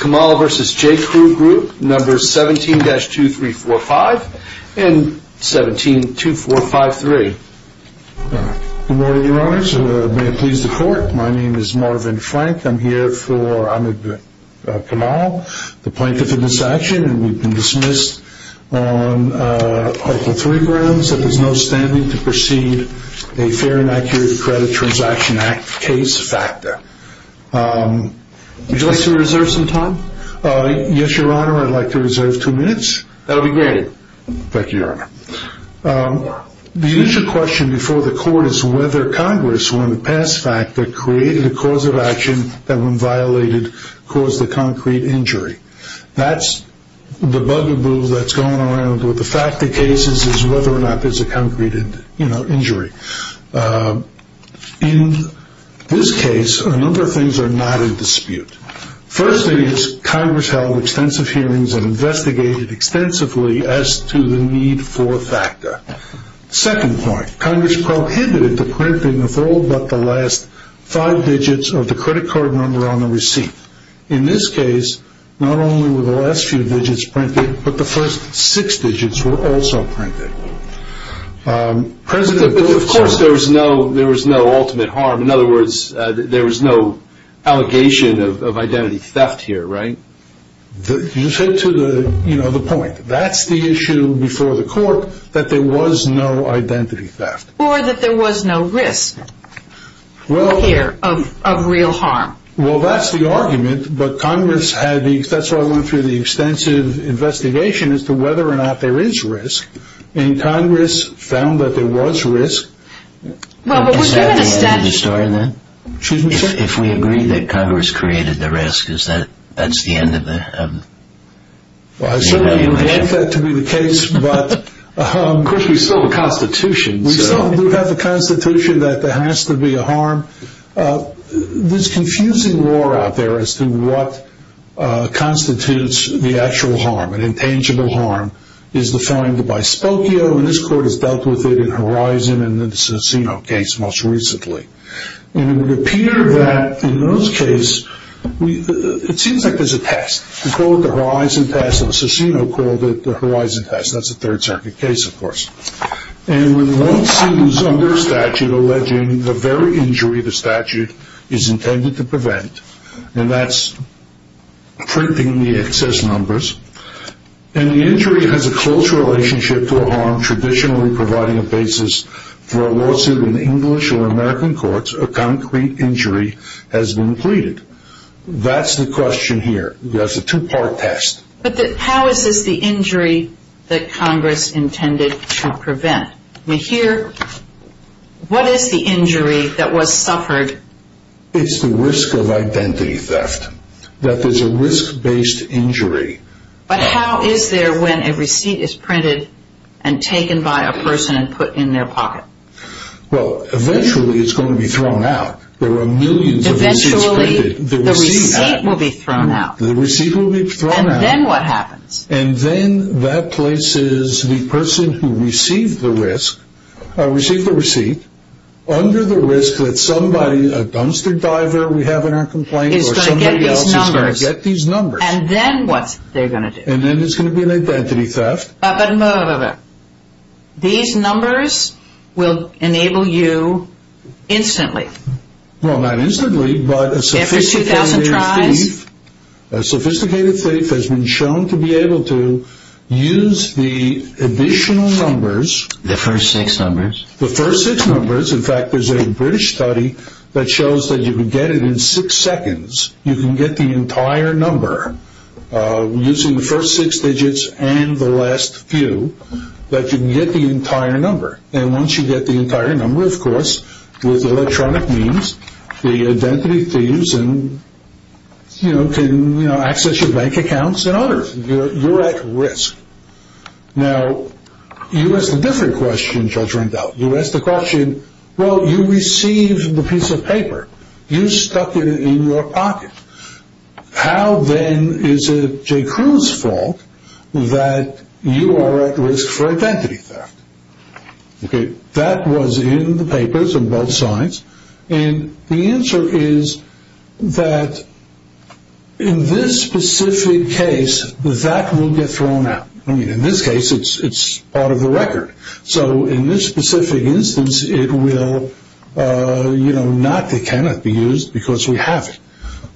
Kamal v. J.Crew Group 17-2345, 17-2453 Good morning, your honors. May it please the court, my name is Marvin Frank. I'm here for Ahmed Kamal, the plaintiff in this action. And we've been dismissed on Article 3 grounds that there's no standing to proceed a fair and accurate Credit Transaction Act case factor. Would you like to reserve some time? Yes, your honor. I'd like to reserve two minutes. That'll be granted. Thank you, your honor. The issue question before the court is whether Congress, when it passed FACTA, created a cause of action that, when violated, caused a concrete injury. That's the bugaboo that's going around with the FACTA cases is whether or not there's a concrete injury. In this case, a number of things are not in dispute. First thing is Congress held extensive hearings and investigated extensively as to the need for FACTA. Second point, Congress prohibited the printing of all but the last five digits of the credit card number on the receipt. In this case, not only were the last few digits printed, but the first six digits were also printed. Of course there was no ultimate harm. In other words, there was no allegation of identity theft here, right? You said to the point, that's the issue before the court, that there was no identity theft. Or that there was no risk here of real harm. Well, that's the argument, but that's why I went through the extensive investigation as to whether or not there is risk. And Congress found that there was risk. Is that the end of the story then? Excuse me, sir? If we agree that Congress created the risk, that's the end of it? I certainly don't want that to be the case, but... Of course, we still have the Constitution. We still do have the Constitution that there has to be a harm. There's confusing lore out there as to what constitutes the actual harm. An intangible harm is defined by Spokio, and this court has dealt with it in Horizon and the Cicino case most recently. And it would appear that in those cases, it seems like there's a test. They call it the Horizon test, and Cicino called it the Horizon test. And when one suit is under statute alleging the very injury the statute is intended to prevent, and that's printing the excess numbers, and the injury has a close relationship to a harm traditionally providing a basis for a lawsuit in English or American courts, a concrete injury has been pleaded. That's the question here. That's a two-part test. But how is this the injury that Congress intended to prevent? Here, what is the injury that was suffered? It's the risk of identity theft, that there's a risk-based injury. But how is there when a receipt is printed and taken by a person and put in their pocket? Well, eventually, it's going to be thrown out. There are millions of receipts printed. Eventually, the receipt will be thrown out. The receipt will be thrown out. And then what happens? And then that places the person who received the receipt under the risk that somebody, a dumpster diver we have in our complaint, or somebody else is going to get these numbers. And then what they're going to do? And then it's going to be an identity theft. But wait, wait, wait. These numbers will enable you instantly. Well, not instantly, but a sophisticated thief has been shown to be able to use the additional numbers. The first six numbers. The first six numbers. In fact, there's a British study that shows that you can get it in six seconds. You can get the entire number using the first six digits and the last few. But you can get the entire number. And once you get the entire number, of course, with electronic means, the identity thieves can access your bank accounts and others. You're at risk. Now, you ask a different question, Judge Rendell. You ask the question, well, you received the piece of paper. You stuck it in your pocket. How, then, is it J.Crew's fault that you are at risk for identity theft? That was in the papers on both sides. And the answer is that in this specific case, that will get thrown out. I mean, in this case, it's out of the record. So, in this specific instance, it will, you know, not that it cannot be used because we have it.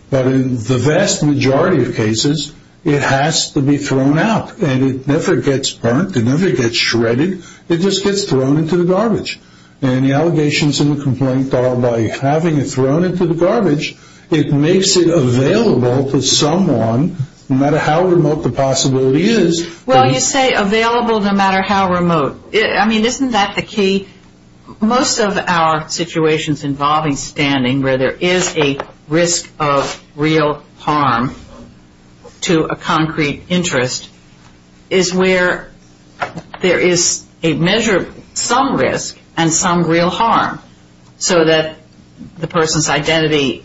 But in the vast majority of cases, it has to be thrown out. And it never gets burnt. It never gets shredded. It just gets thrown into the garbage. And the allegations in the complaint are by having it thrown into the garbage, it makes it available to someone, no matter how remote the possibility is. Well, you say available no matter how remote. I mean, isn't that the key? Most of our situations involving standing where there is a risk of real harm to a concrete interest is where there is a measure of some risk and some real harm so that the person's identity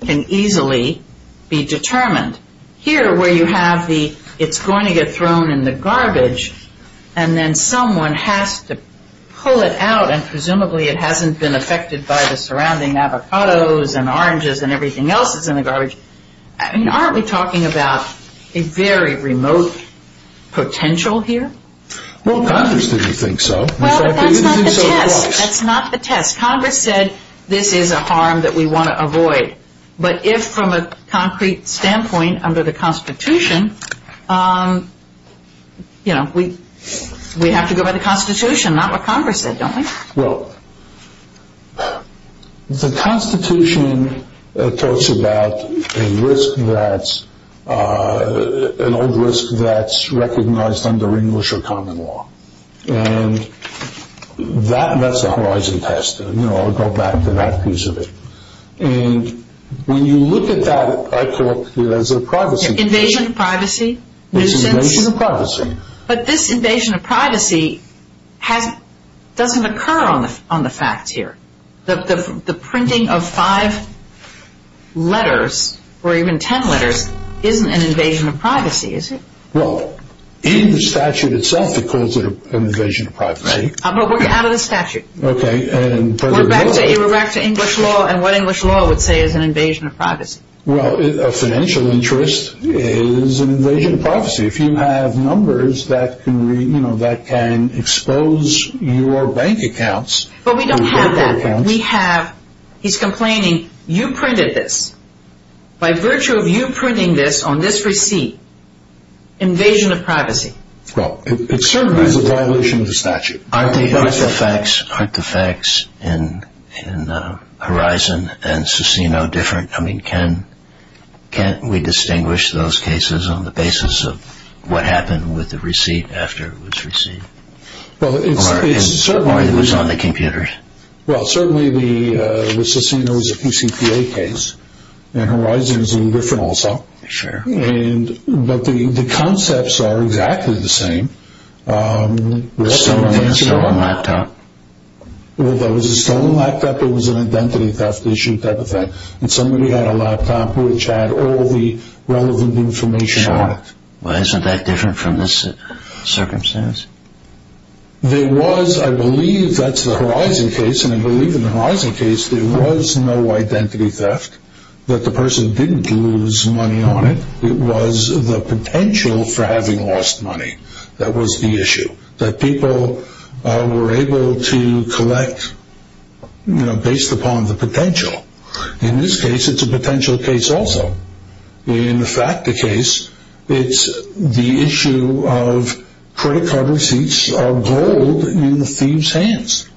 can easily be determined. Here, where you have the it's going to get thrown in the garbage and then someone has to pull it out and presumably it hasn't been affected by the surrounding avocados and oranges and everything else that's in the garbage. I mean, aren't we talking about a very remote potential here? Well, Congress didn't think so. In fact, they didn't think so at all. That's not the test. Congress said this is a harm that we want to avoid. But if from a concrete standpoint under the Constitution, you know, we have to go by the Constitution, not what Congress said, don't we? Well, the Constitution talks about a risk that's an old risk that's recognized under English or common law. And that's a horizon test. You know, I'll go back to that piece of it. And when you look at that, I call it a privacy test. Invasion of privacy? It's an invasion of privacy. But this invasion of privacy doesn't occur on the facts here. The printing of five letters or even ten letters isn't an invasion of privacy, is it? No, we're out of the statute. Okay. We're back to English law. And what English law would say is an invasion of privacy? Well, a financial interest is an invasion of privacy. If you have numbers that can expose your bank accounts. But we don't have that. We have, he's complaining, you printed this. By virtue of you printing this on this receipt, invasion of privacy. Well, it certainly is a violation of the statute. Aren't the facts in Horizon and Cicino different? I mean, can't we distinguish those cases on the basis of what happened with the receipt after it was received? Or it was on the computers? Well, certainly the Cicino is a PCPA case. And Horizon is a little different also. Sure. But the concepts are exactly the same. A stolen laptop. Well, that was a stolen laptop. It was an identity theft issue type of thing. And somebody had a laptop which had all the relevant information on it. Sure. Well, isn't that different from this circumstance? There was, I believe, that's the Horizon case, and I believe in the Horizon case, there was no identity theft, that the person didn't lose money on it. It was the potential for having lost money that was the issue. That people were able to collect, you know, based upon the potential. In this case, it's a potential case also. In the FACTA case, it's the issue of credit card receipts of gold in the thieves' hands.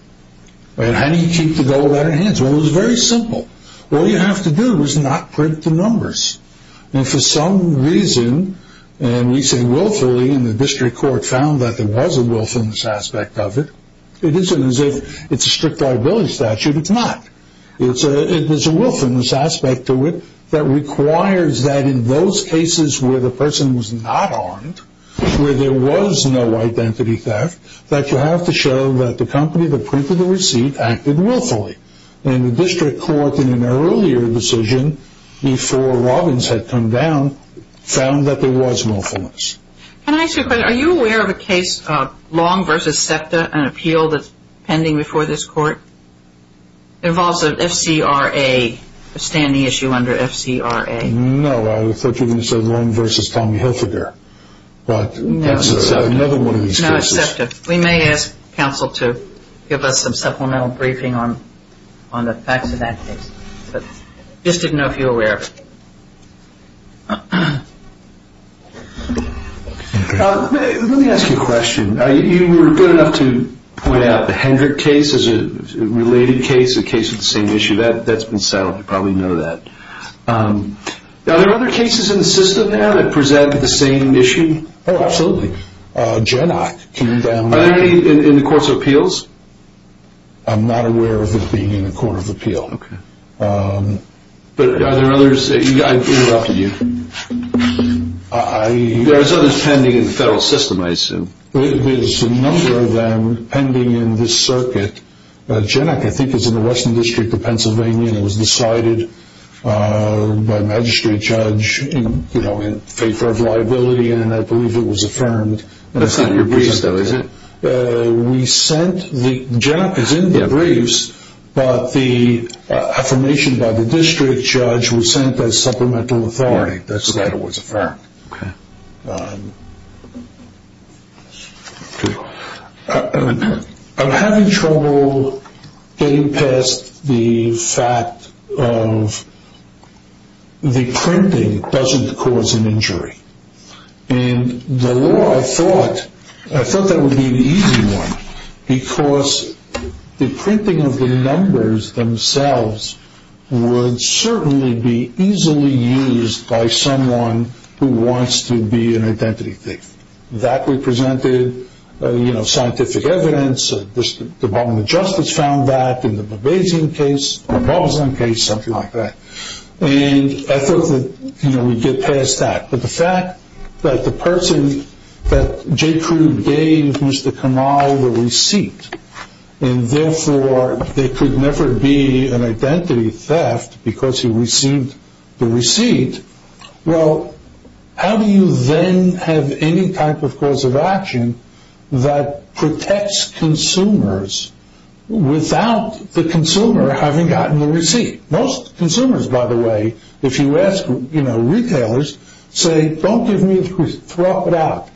And how do you keep the gold out of your hands? Well, it was very simple. All you have to do is not print the numbers. And for some reason, and we say willfully, and the district court found that there was a willfulness aspect of it. It isn't as if it's a strict liability statute. It's not. There's a willfulness aspect to it that requires that in those cases where the person was not armed, where there was no identity theft, that you have to show that the company that printed the receipt acted willfully. And the district court, in an earlier decision, before Robbins had come down, found that there was willfulness. Can I ask you a question? Are you aware of a case, Long v. SEPTA, an appeal that's pending before this court? It involves an FCRA, a standing issue under FCRA. No, I thought you were going to say Long v. Tommy Hilfiger. But that's another one of these cases. Long v. SEPTA. We may ask counsel to give us some supplemental briefing on the facts of that case. Just didn't know if you were aware of it. Let me ask you a question. You were good enough to point out the Hendrick case as a related case, a case of the same issue. That's been settled. You probably know that. Are there other cases in the system now that present the same issue? Oh, absolutely. Genak came down. Are there any in the Courts of Appeals? I'm not aware of it being in the Court of Appeal. Okay. But are there others? I interrupted you. There are others pending in the federal system, I assume. There's a number of them pending in this circuit. Genak, I think, is in the Western District of Pennsylvania, and it was decided by a magistrate judge in favor of liability, and I believe it was affirmed. That's not in your briefs, though, is it? Genak is in the briefs, but the affirmation by the district judge was sent as supplemental authority. Okay. I'm having trouble getting past the fact of the printing doesn't cause an injury. And the law, I thought that would be an easy one because the printing of the numbers themselves would certainly be easily used by someone who wants to be an identity thief. That represented scientific evidence. The Department of Justice found that in the Babazin case, something like that. And I thought that we'd get past that. But the fact that the person that J. Crew gave Mr. Kamal the receipt, and therefore there could never be an identity theft because he received the receipt, well, how do you then have any type of cause of action that protects consumers without the consumer having gotten the receipt? Most consumers, by the way, if you ask retailers, say, don't give me the receipt, throw it out.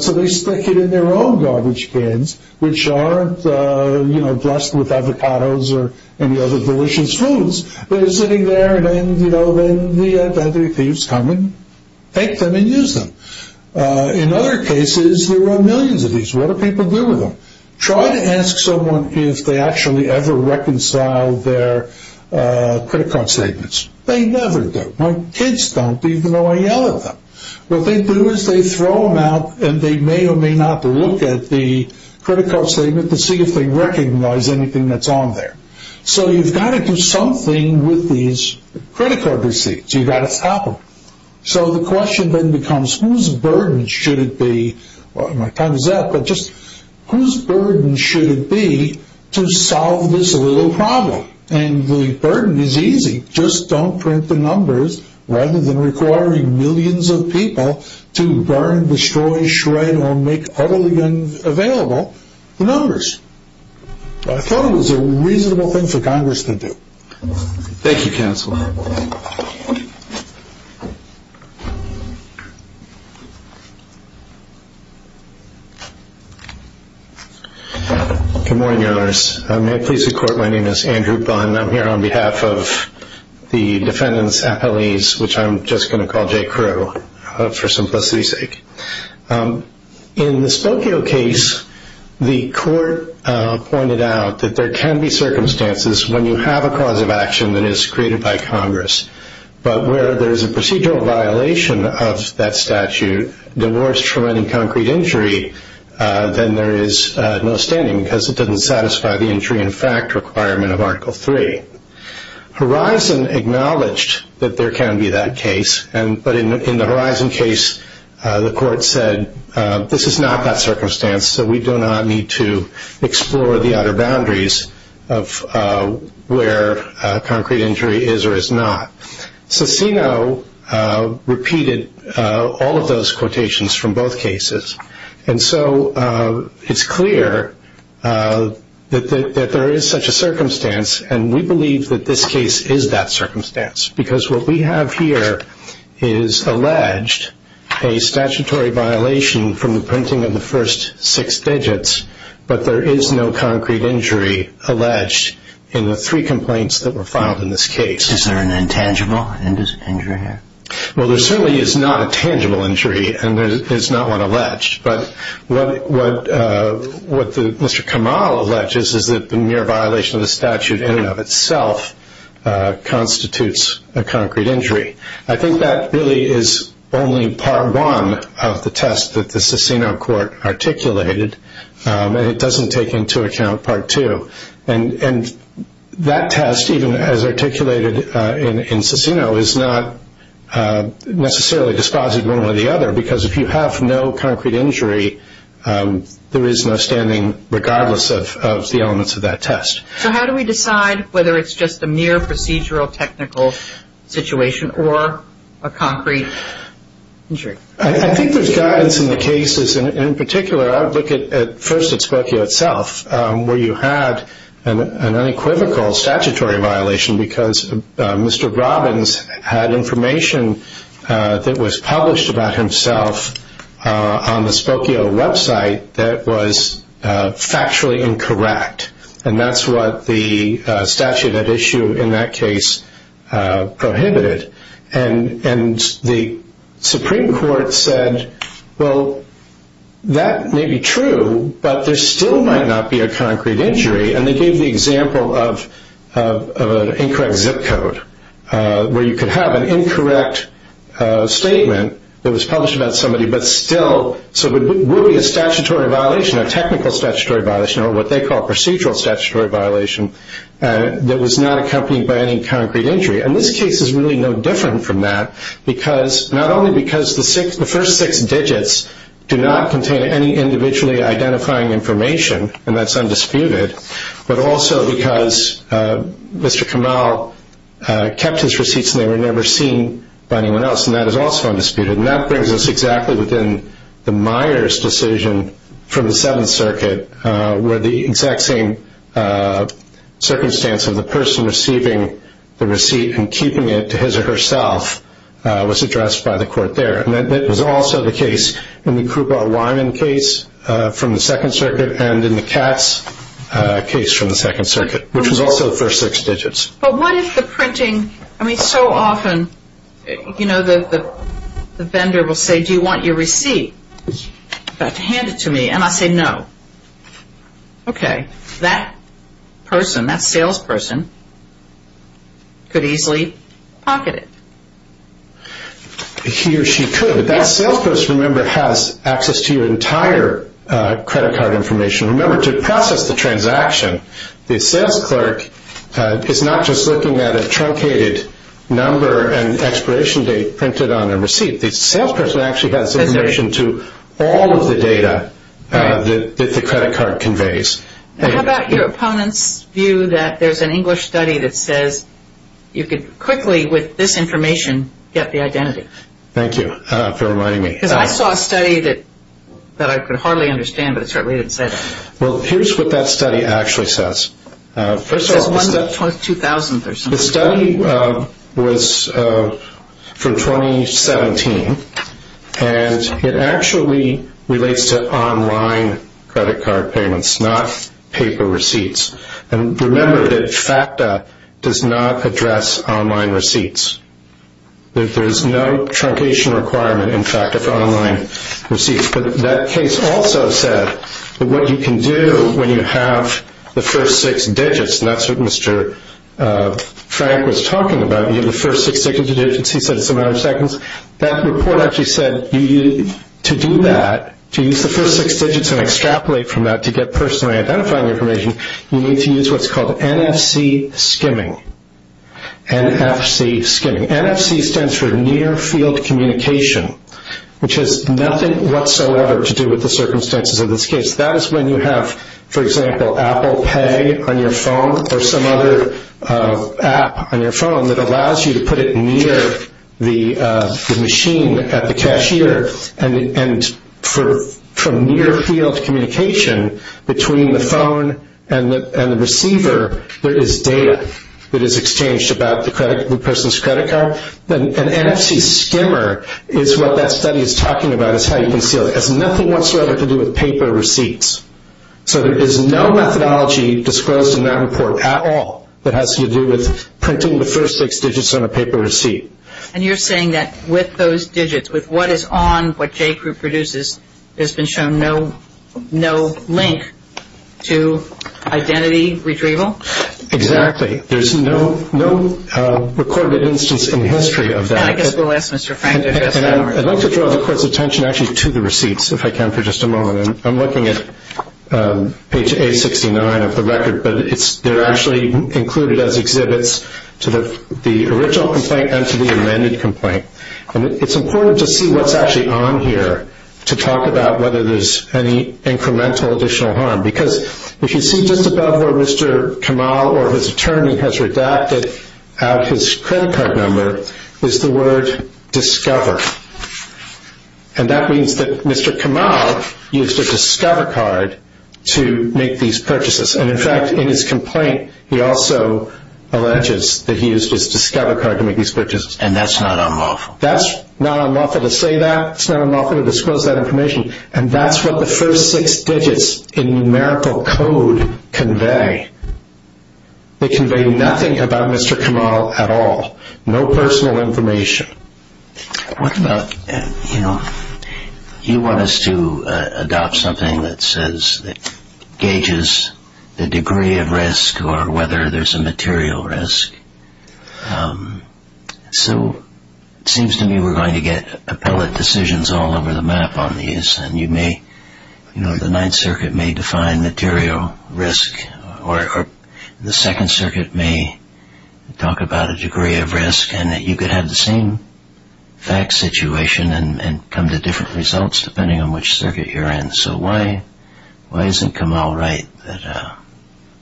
So they stick it in their own garbage cans, which aren't dressed with avocados or any other delicious foods. They're sitting there and then the identity thieves come and take them and use them. In other cases, there are millions of these. What do people do with them? Try to ask someone if they actually ever reconcile their credit card statements. They never do. My kids don't, even though I yell at them. What they do is they throw them out, and they may or may not look at the credit card statement to see if they recognize anything that's on there. So you've got to do something with these credit card receipts. You've got to stop them. So the question then becomes, whose burden should it be to solve this little problem? And the burden is easy. Just don't print the numbers rather than requiring millions of people to burn, destroy, shred, or make utterly unavailable the numbers. I thought it was a reasonable thing for Congress to do. Thank you, Counselor. Good morning, Your Honors. May it please the Court, my name is Andrew Bunn, and I'm here on behalf of the defendants' appellees, which I'm just going to call J. Crew for simplicity's sake. In the Spokio case, the Court pointed out that there can be circumstances when you have a cause of action that is created by Congress, but where there is a procedural violation of that statute, divorced from any concrete injury, then there is no standing because it doesn't satisfy the injury in fact requirement of Article III. Horizon acknowledged that there can be that case, but in the Horizon case the Court said this is not that circumstance, so we do not need to explore the outer boundaries of where concrete injury is or is not. So CINO repeated all of those quotations from both cases, and so it's clear that there is such a circumstance, and we believe that this case is that circumstance, because what we have here is alleged a statutory violation from the printing of the first six digits, but there is no concrete injury alleged in the three complaints that were filed in this case. Is there an intangible injury here? Well, there certainly is not a tangible injury, and there is not one alleged, but what Mr. Kamal alleges is that the mere violation of the statute in and of itself constitutes a concrete injury. I think that really is only Part 1 of the test that the CINO Court articulated, and it doesn't take into account Part 2. And that test, even as articulated in CINO, is not necessarily dispositive of one or the other, because if you have no concrete injury, there is no standing regardless of the elements of that test. So how do we decide whether it's just a mere procedural technical situation or a concrete injury? I think there's guidance in the cases. In particular, I would look first at Spokio itself, where you had an unequivocal statutory violation because Mr. Robbins had information that was published about himself on the Spokio website that was factually incorrect, and that's what the statute at issue in that case prohibited. And the Supreme Court said, well, that may be true, but there still might not be a concrete injury, and they gave the example of an incorrect zip code where you could have an incorrect statement that was published about somebody, but still, so it would be a statutory violation, a technical statutory violation, or what they call a procedural statutory violation that was not accompanied by any concrete injury. And this case is really no different from that, because not only because the first six digits do not contain any individually identifying information, and that's undisputed, but also because Mr. Kamau kept his receipts and they were never seen by anyone else, and that is also undisputed. And that brings us exactly within the Myers decision from the Seventh Circuit, where the exact same circumstance of the person receiving the receipt and keeping it to his or herself was addressed by the court there. And that was also the case in the Krupa-Wyman case from the Second Circuit and in the Katz case from the Second Circuit, which was also the first six digits. But what if the printing, I mean, so often, you know, the vendor will say, do you want your receipt? Hand it to me, and I say no. Okay, that person, that salesperson, could easily pocket it. He or she could, but that salesperson, remember, has access to your entire credit card information. Remember, to process the transaction, the sales clerk is not just looking at a truncated number and expiration date printed on a receipt. The salesperson actually has information to all of the data that the credit card conveys. How about your opponent's view that there's an English study that says you could quickly, with this information, get the identity? Thank you for reminding me. Because I saw a study that I could hardly understand, but it certainly didn't say that. Well, here's what that study actually says. It says 1-2000th or something. The study was from 2017, and it actually relates to online credit card payments, not paper receipts. And remember that FACTA does not address online receipts. There's no truncation requirement in FACTA for online receipts. But that case also said that what you can do when you have the first six digits, and that's what Mr. Frank was talking about. You have the first six digits. He said it's a matter of seconds. That report actually said to do that, to use the first six digits and extrapolate from that to get personally identifying information, you need to use what's called NFC skimming. NFC skimming. NFC stands for near field communication, which has nothing whatsoever to do with the circumstances of this case. That is when you have, for example, Apple Pay on your phone or some other app on your phone that allows you to put it near the machine at the cashier. And from near field communication between the phone and the receiver, there is data that is exchanged about the person's credit card. An NFC skimmer is what that study is talking about, and that is how you conceal it. It has nothing whatsoever to do with paper receipts. So there is no methodology disclosed in that report at all that has to do with printing the first six digits on a paper receipt. And you're saying that with those digits, with what is on what Jay Crew produces, there's been shown no link to identity retrieval? Exactly. There's no recorded instance in the history of that. And I guess we'll ask Mr. Frank to address that. I'd like to draw the Court's attention actually to the receipts, if I can, for just a moment. I'm looking at page 869 of the record, but they're actually included as exhibits to the original complaint and to the amended complaint. And it's important to see what's actually on here to talk about whether there's any incremental additional harm, because if you see just above where Mr. Kamal or his attorney has redacted out his credit card number is the word discover. And that means that Mr. Kamal used a discover card to make these purchases. And, in fact, in his complaint, he also alleges that he used his discover card to make these purchases. And that's not unlawful. That's not unlawful to say that. It's not unlawful to disclose that information. And that's what the first six digits in numerical code convey. They convey nothing about Mr. Kamal at all. No personal information. What about, you know, you want us to adopt something that says, that gauges the degree of risk or whether there's a material risk. So it seems to me we're going to get appellate decisions all over the map on these, and you may, you know, the Ninth Circuit may define material risk, or the Second Circuit may talk about a degree of risk, and you could have the same fact situation and come to different results depending on which circuit you're in. So why isn't Kamal right?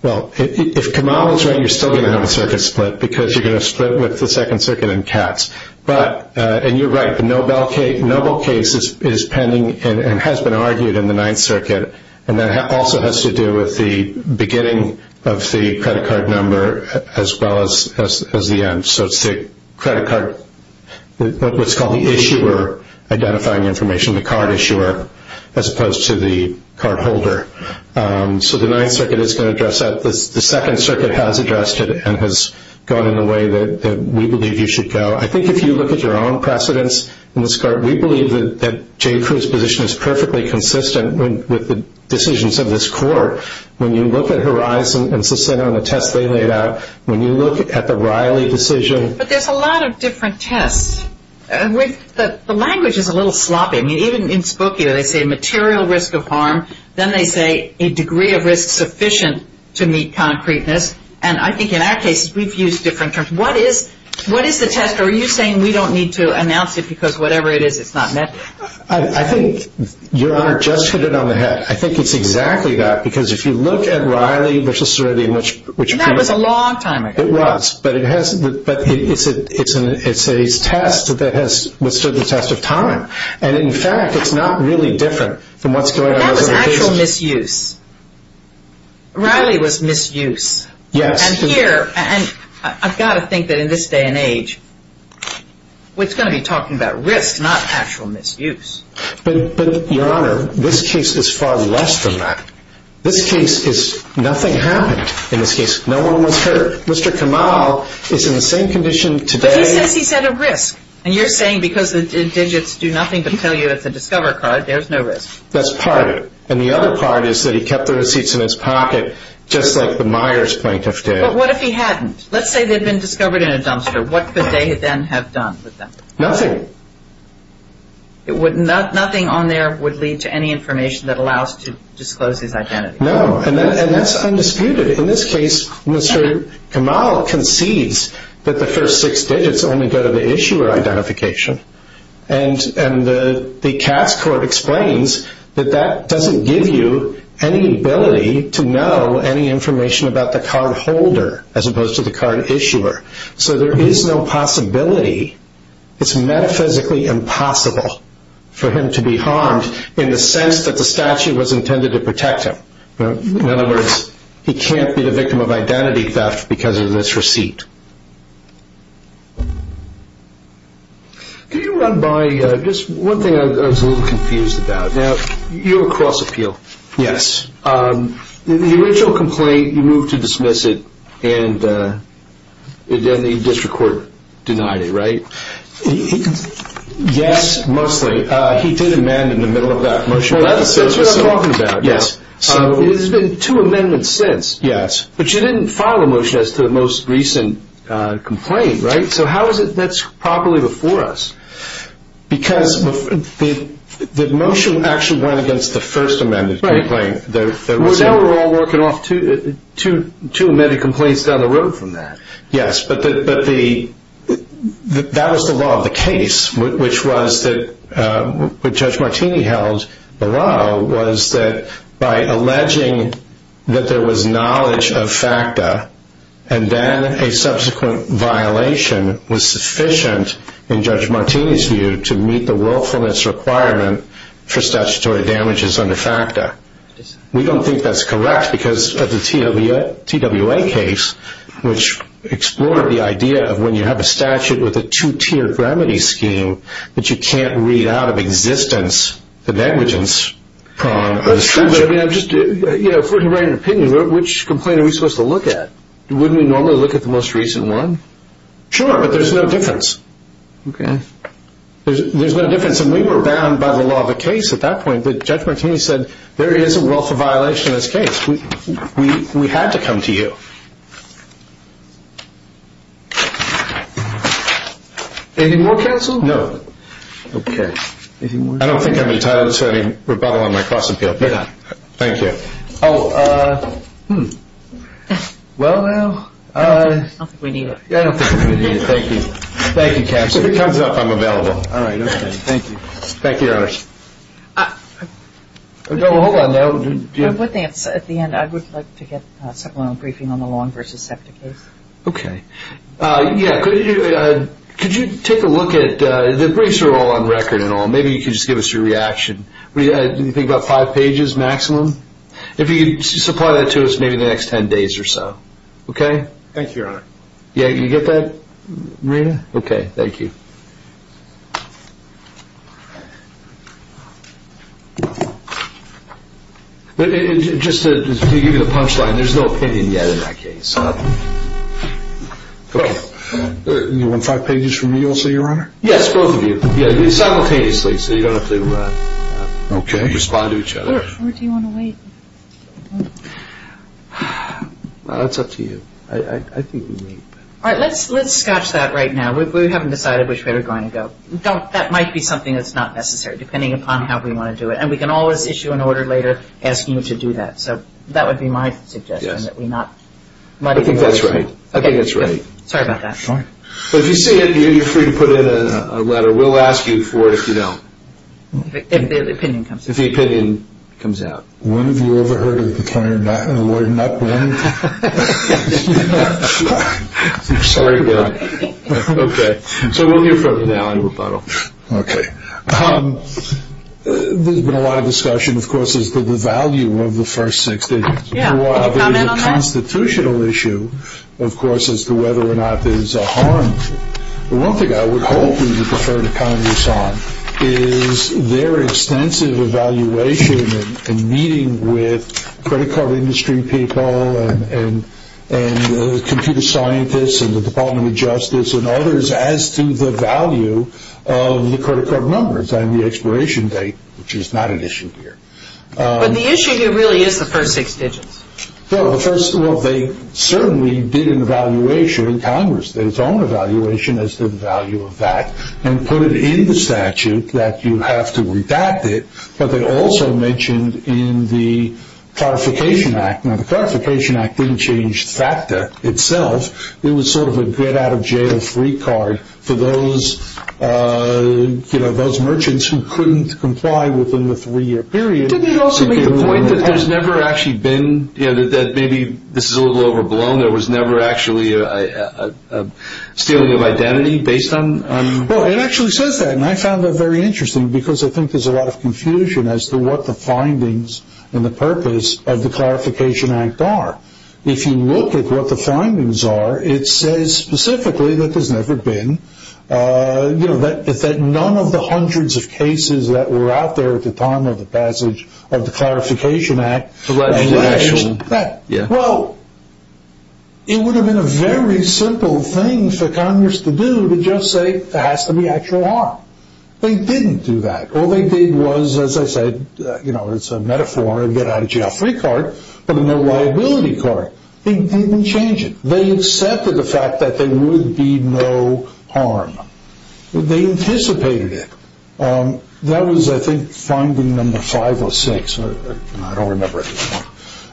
Well, if Kamal is right, you're still going to have a circuit split, because you're going to split with the Second Circuit and Katz. But, and you're right, the Nobel case is pending and has been argued in the Ninth Circuit, and that also has to do with the beginning of the credit card number as well as the end. So it's the credit card, what's called the issuer identifying information, the card issuer, as opposed to the card holder. So the Ninth Circuit is going to address that. The Second Circuit has addressed it and has gone in a way that we believe you should go. I think if you look at your own precedents in this card, we believe that Jay Krug's position is perfectly consistent with the decisions of this court. When you look at Horizon and Susanna and the tests they laid out, when you look at the Riley decision. But there's a lot of different tests. The language is a little sloppy. I mean, even in Spokio they say material risk of harm, then they say a degree of risk sufficient to meet concreteness, and I think in our case we've used different terms. What is the test? Are you saying we don't need to announce it because whatever it is, it's not met? I think Your Honor just hit it on the head. I think it's exactly that because if you look at Riley, which is sort of the image. That was a long time ago. It was, but it's a test that has withstood the test of time. And in fact, it's not really different from what's going on. That was actual misuse. Riley was misuse. Yes. And here, and I've got to think that in this day and age, we're going to be talking about risk, not actual misuse. But, Your Honor, this case is far less than that. This case is nothing happened in this case. No one was hurt. Mr. Kamal is in the same condition today. But he says he's at a risk. And you're saying because the digits do nothing but tell you it's a Discover card, there's no risk. That's part of it. And the other part is that he kept the receipts in his pocket just like the Myers plaintiff did. But what if he hadn't? Let's say they'd been discovered in a dumpster. What could they then have done with them? Nothing. Nothing on there would lead to any information that allows to disclose his identity. No, and that's undisputed. In this case, Mr. Kamal concedes that the first six digits only go to the issuer identification. And the Cass court explains that that doesn't give you any ability to know any information about the card holder as opposed to the card issuer. So there is no possibility. It's metaphysically impossible for him to be harmed in the sense that the statute was intended to protect him. In other words, he can't be the victim of identity theft because of this receipt. Can you run by just one thing I was a little confused about? You have a cross appeal. Yes. The original complaint, you moved to dismiss it, and then the district court denied it, right? Yes, mostly. He did amend in the middle of that motion. That's what I'm talking about. There's been two amendments since. Yes. But you didn't file a motion as to the most recent complaint, right? So how is it that's properly before us? Because the motion actually went against the first amended complaint. Now we're all working off two amended complaints down the road from that. Yes, but that was the law of the case, which was that what Judge Martini held below was that by alleging that there was knowledge of FACTA and then a subsequent violation was sufficient in Judge Martini's view to meet the willfulness requirement for statutory damages under FACTA. We don't think that's correct because of the TWA case, which explored the idea of when you have a statute with a two-tiered remedy scheme that you can't read out of existence the negligence on the statute. If we're to write an opinion, which complaint are we supposed to look at? Wouldn't we normally look at the most recent one? Sure, but there's no difference. Okay. There's no difference, and we were bound by the law of the case at that point. But Judge Martini said there is a wealth of violation in this case. We had to come to you. Anything more, counsel? No. Okay. Anything more? I don't think I'm entitled to any rebuttal on my cross-appeal. You're not. Thank you. Oh, well, well. I don't think we need it. I don't think we need it. Thank you. Thank you, counsel. If it comes up, I'm available. All right. Thank you. Thank you, Your Honor. Oh, well, hold on now. One thing. At the end, I would like to get supplemental briefing on the Long v. SEPTA case. Okay. Yeah, could you take a look at the briefs are all on record and all. Maybe you could just give us your reaction. Do you think about five pages maximum? If you could supply that to us, maybe the next ten days or so. Okay? Thank you, Your Honor. Yeah, you get that, Marina? Okay. Thank you. Just to give you the punchline, there's no opinion yet in that case. You want five pages from me also, Your Honor? Yes, both of you. Simultaneously, so you don't have to respond to each other. Where do you want to wait? That's up to you. All right, let's scotch that right now. We haven't decided which way we're going to go. That might be something that's not necessary, depending upon how we want to do it. And we can always issue an order later asking you to do that. So that would be my suggestion, that we not muddy the waters. I think that's right. I think that's right. Okay, good. Sorry about that. But if you see it, you're free to put in a letter. We'll ask you for it if you don't. If the opinion comes out. If the opinion comes out. When have you ever heard a lawyer not win? Sorry about that. Okay, so we'll hear from him now in rebuttal. Okay. There's been a lot of discussion, of course, as to the value of the first six days. Yeah, can you comment on that? There's been a constitutional issue, of course, as to whether or not there's a harm. One thing I would hope we could refer to Congress on is their extensive evaluation and meeting with credit card industry people and computer scientists and the Department of Justice and others as to the value of the credit card numbers and the expiration date, which is not an issue here. But the issue here really is the first six digits. Well, they certainly did an evaluation in Congress, their own evaluation, as to the value of that, and put it in the statute that you have to redact it. But they also mentioned in the Clarification Act. Now, the Clarification Act didn't change FACTA itself. It was sort of a get-out-of-jail-free card for those merchants who couldn't comply within the three-year period. Didn't it also make the point that there's never actually been, that maybe this is a little overblown, there was never actually a stealing of identity based on? Well, it actually says that, and I found that very interesting because I think there's a lot of confusion as to what the findings and the purpose of the Clarification Act are. If you look at what the findings are, it says specifically that there's never been, that none of the hundreds of cases that were out there at the time of the passage of the Clarification Act alleged that. Well, it would have been a very simple thing for Congress to do to just say, there has to be actual harm. They didn't do that. All they did was, as I said, it's a metaphor, a get-out-of-jail-free card, but a no liability card. They didn't change it. They accepted the fact that there would be no harm. They anticipated it. That was, I think, finding number five or six. I don't remember anymore.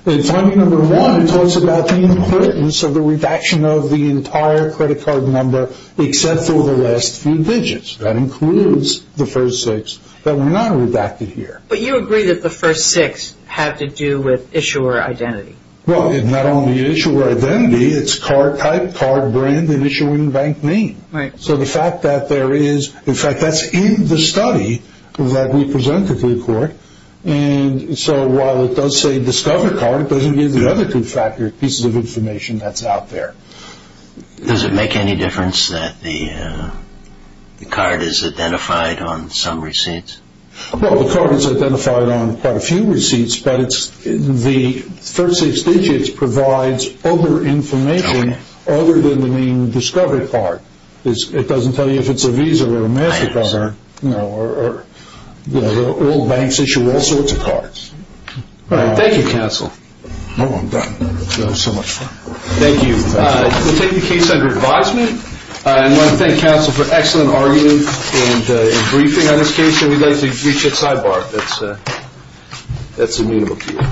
In finding number one, it talks about the importance of the redaction of the entire credit card number except for the last few digits. That includes the first six that were not redacted here. But you agree that the first six have to do with issuer identity. Well, not only issuer identity, it's card type, card brand, and issuing bank name. Right. So the fact that there is, in fact, that's in the study that we presented to the court, and so while it does say discover card, it doesn't give the other two pieces of information that's out there. Does it make any difference that the card is identified on some receipts? Well, the card is identified on quite a few receipts, but the first six digits provides other information other than the main discover card. It doesn't tell you if it's a Visa or a MasterCard. All banks issue all sorts of cards. All right. Thank you, counsel. No, I'm done. That was so much fun. Thank you. We'll take the case under advisement. I want to thank counsel for excellent argument and briefing on this case, and we'd like to reach it sidebar. That's amenable to you.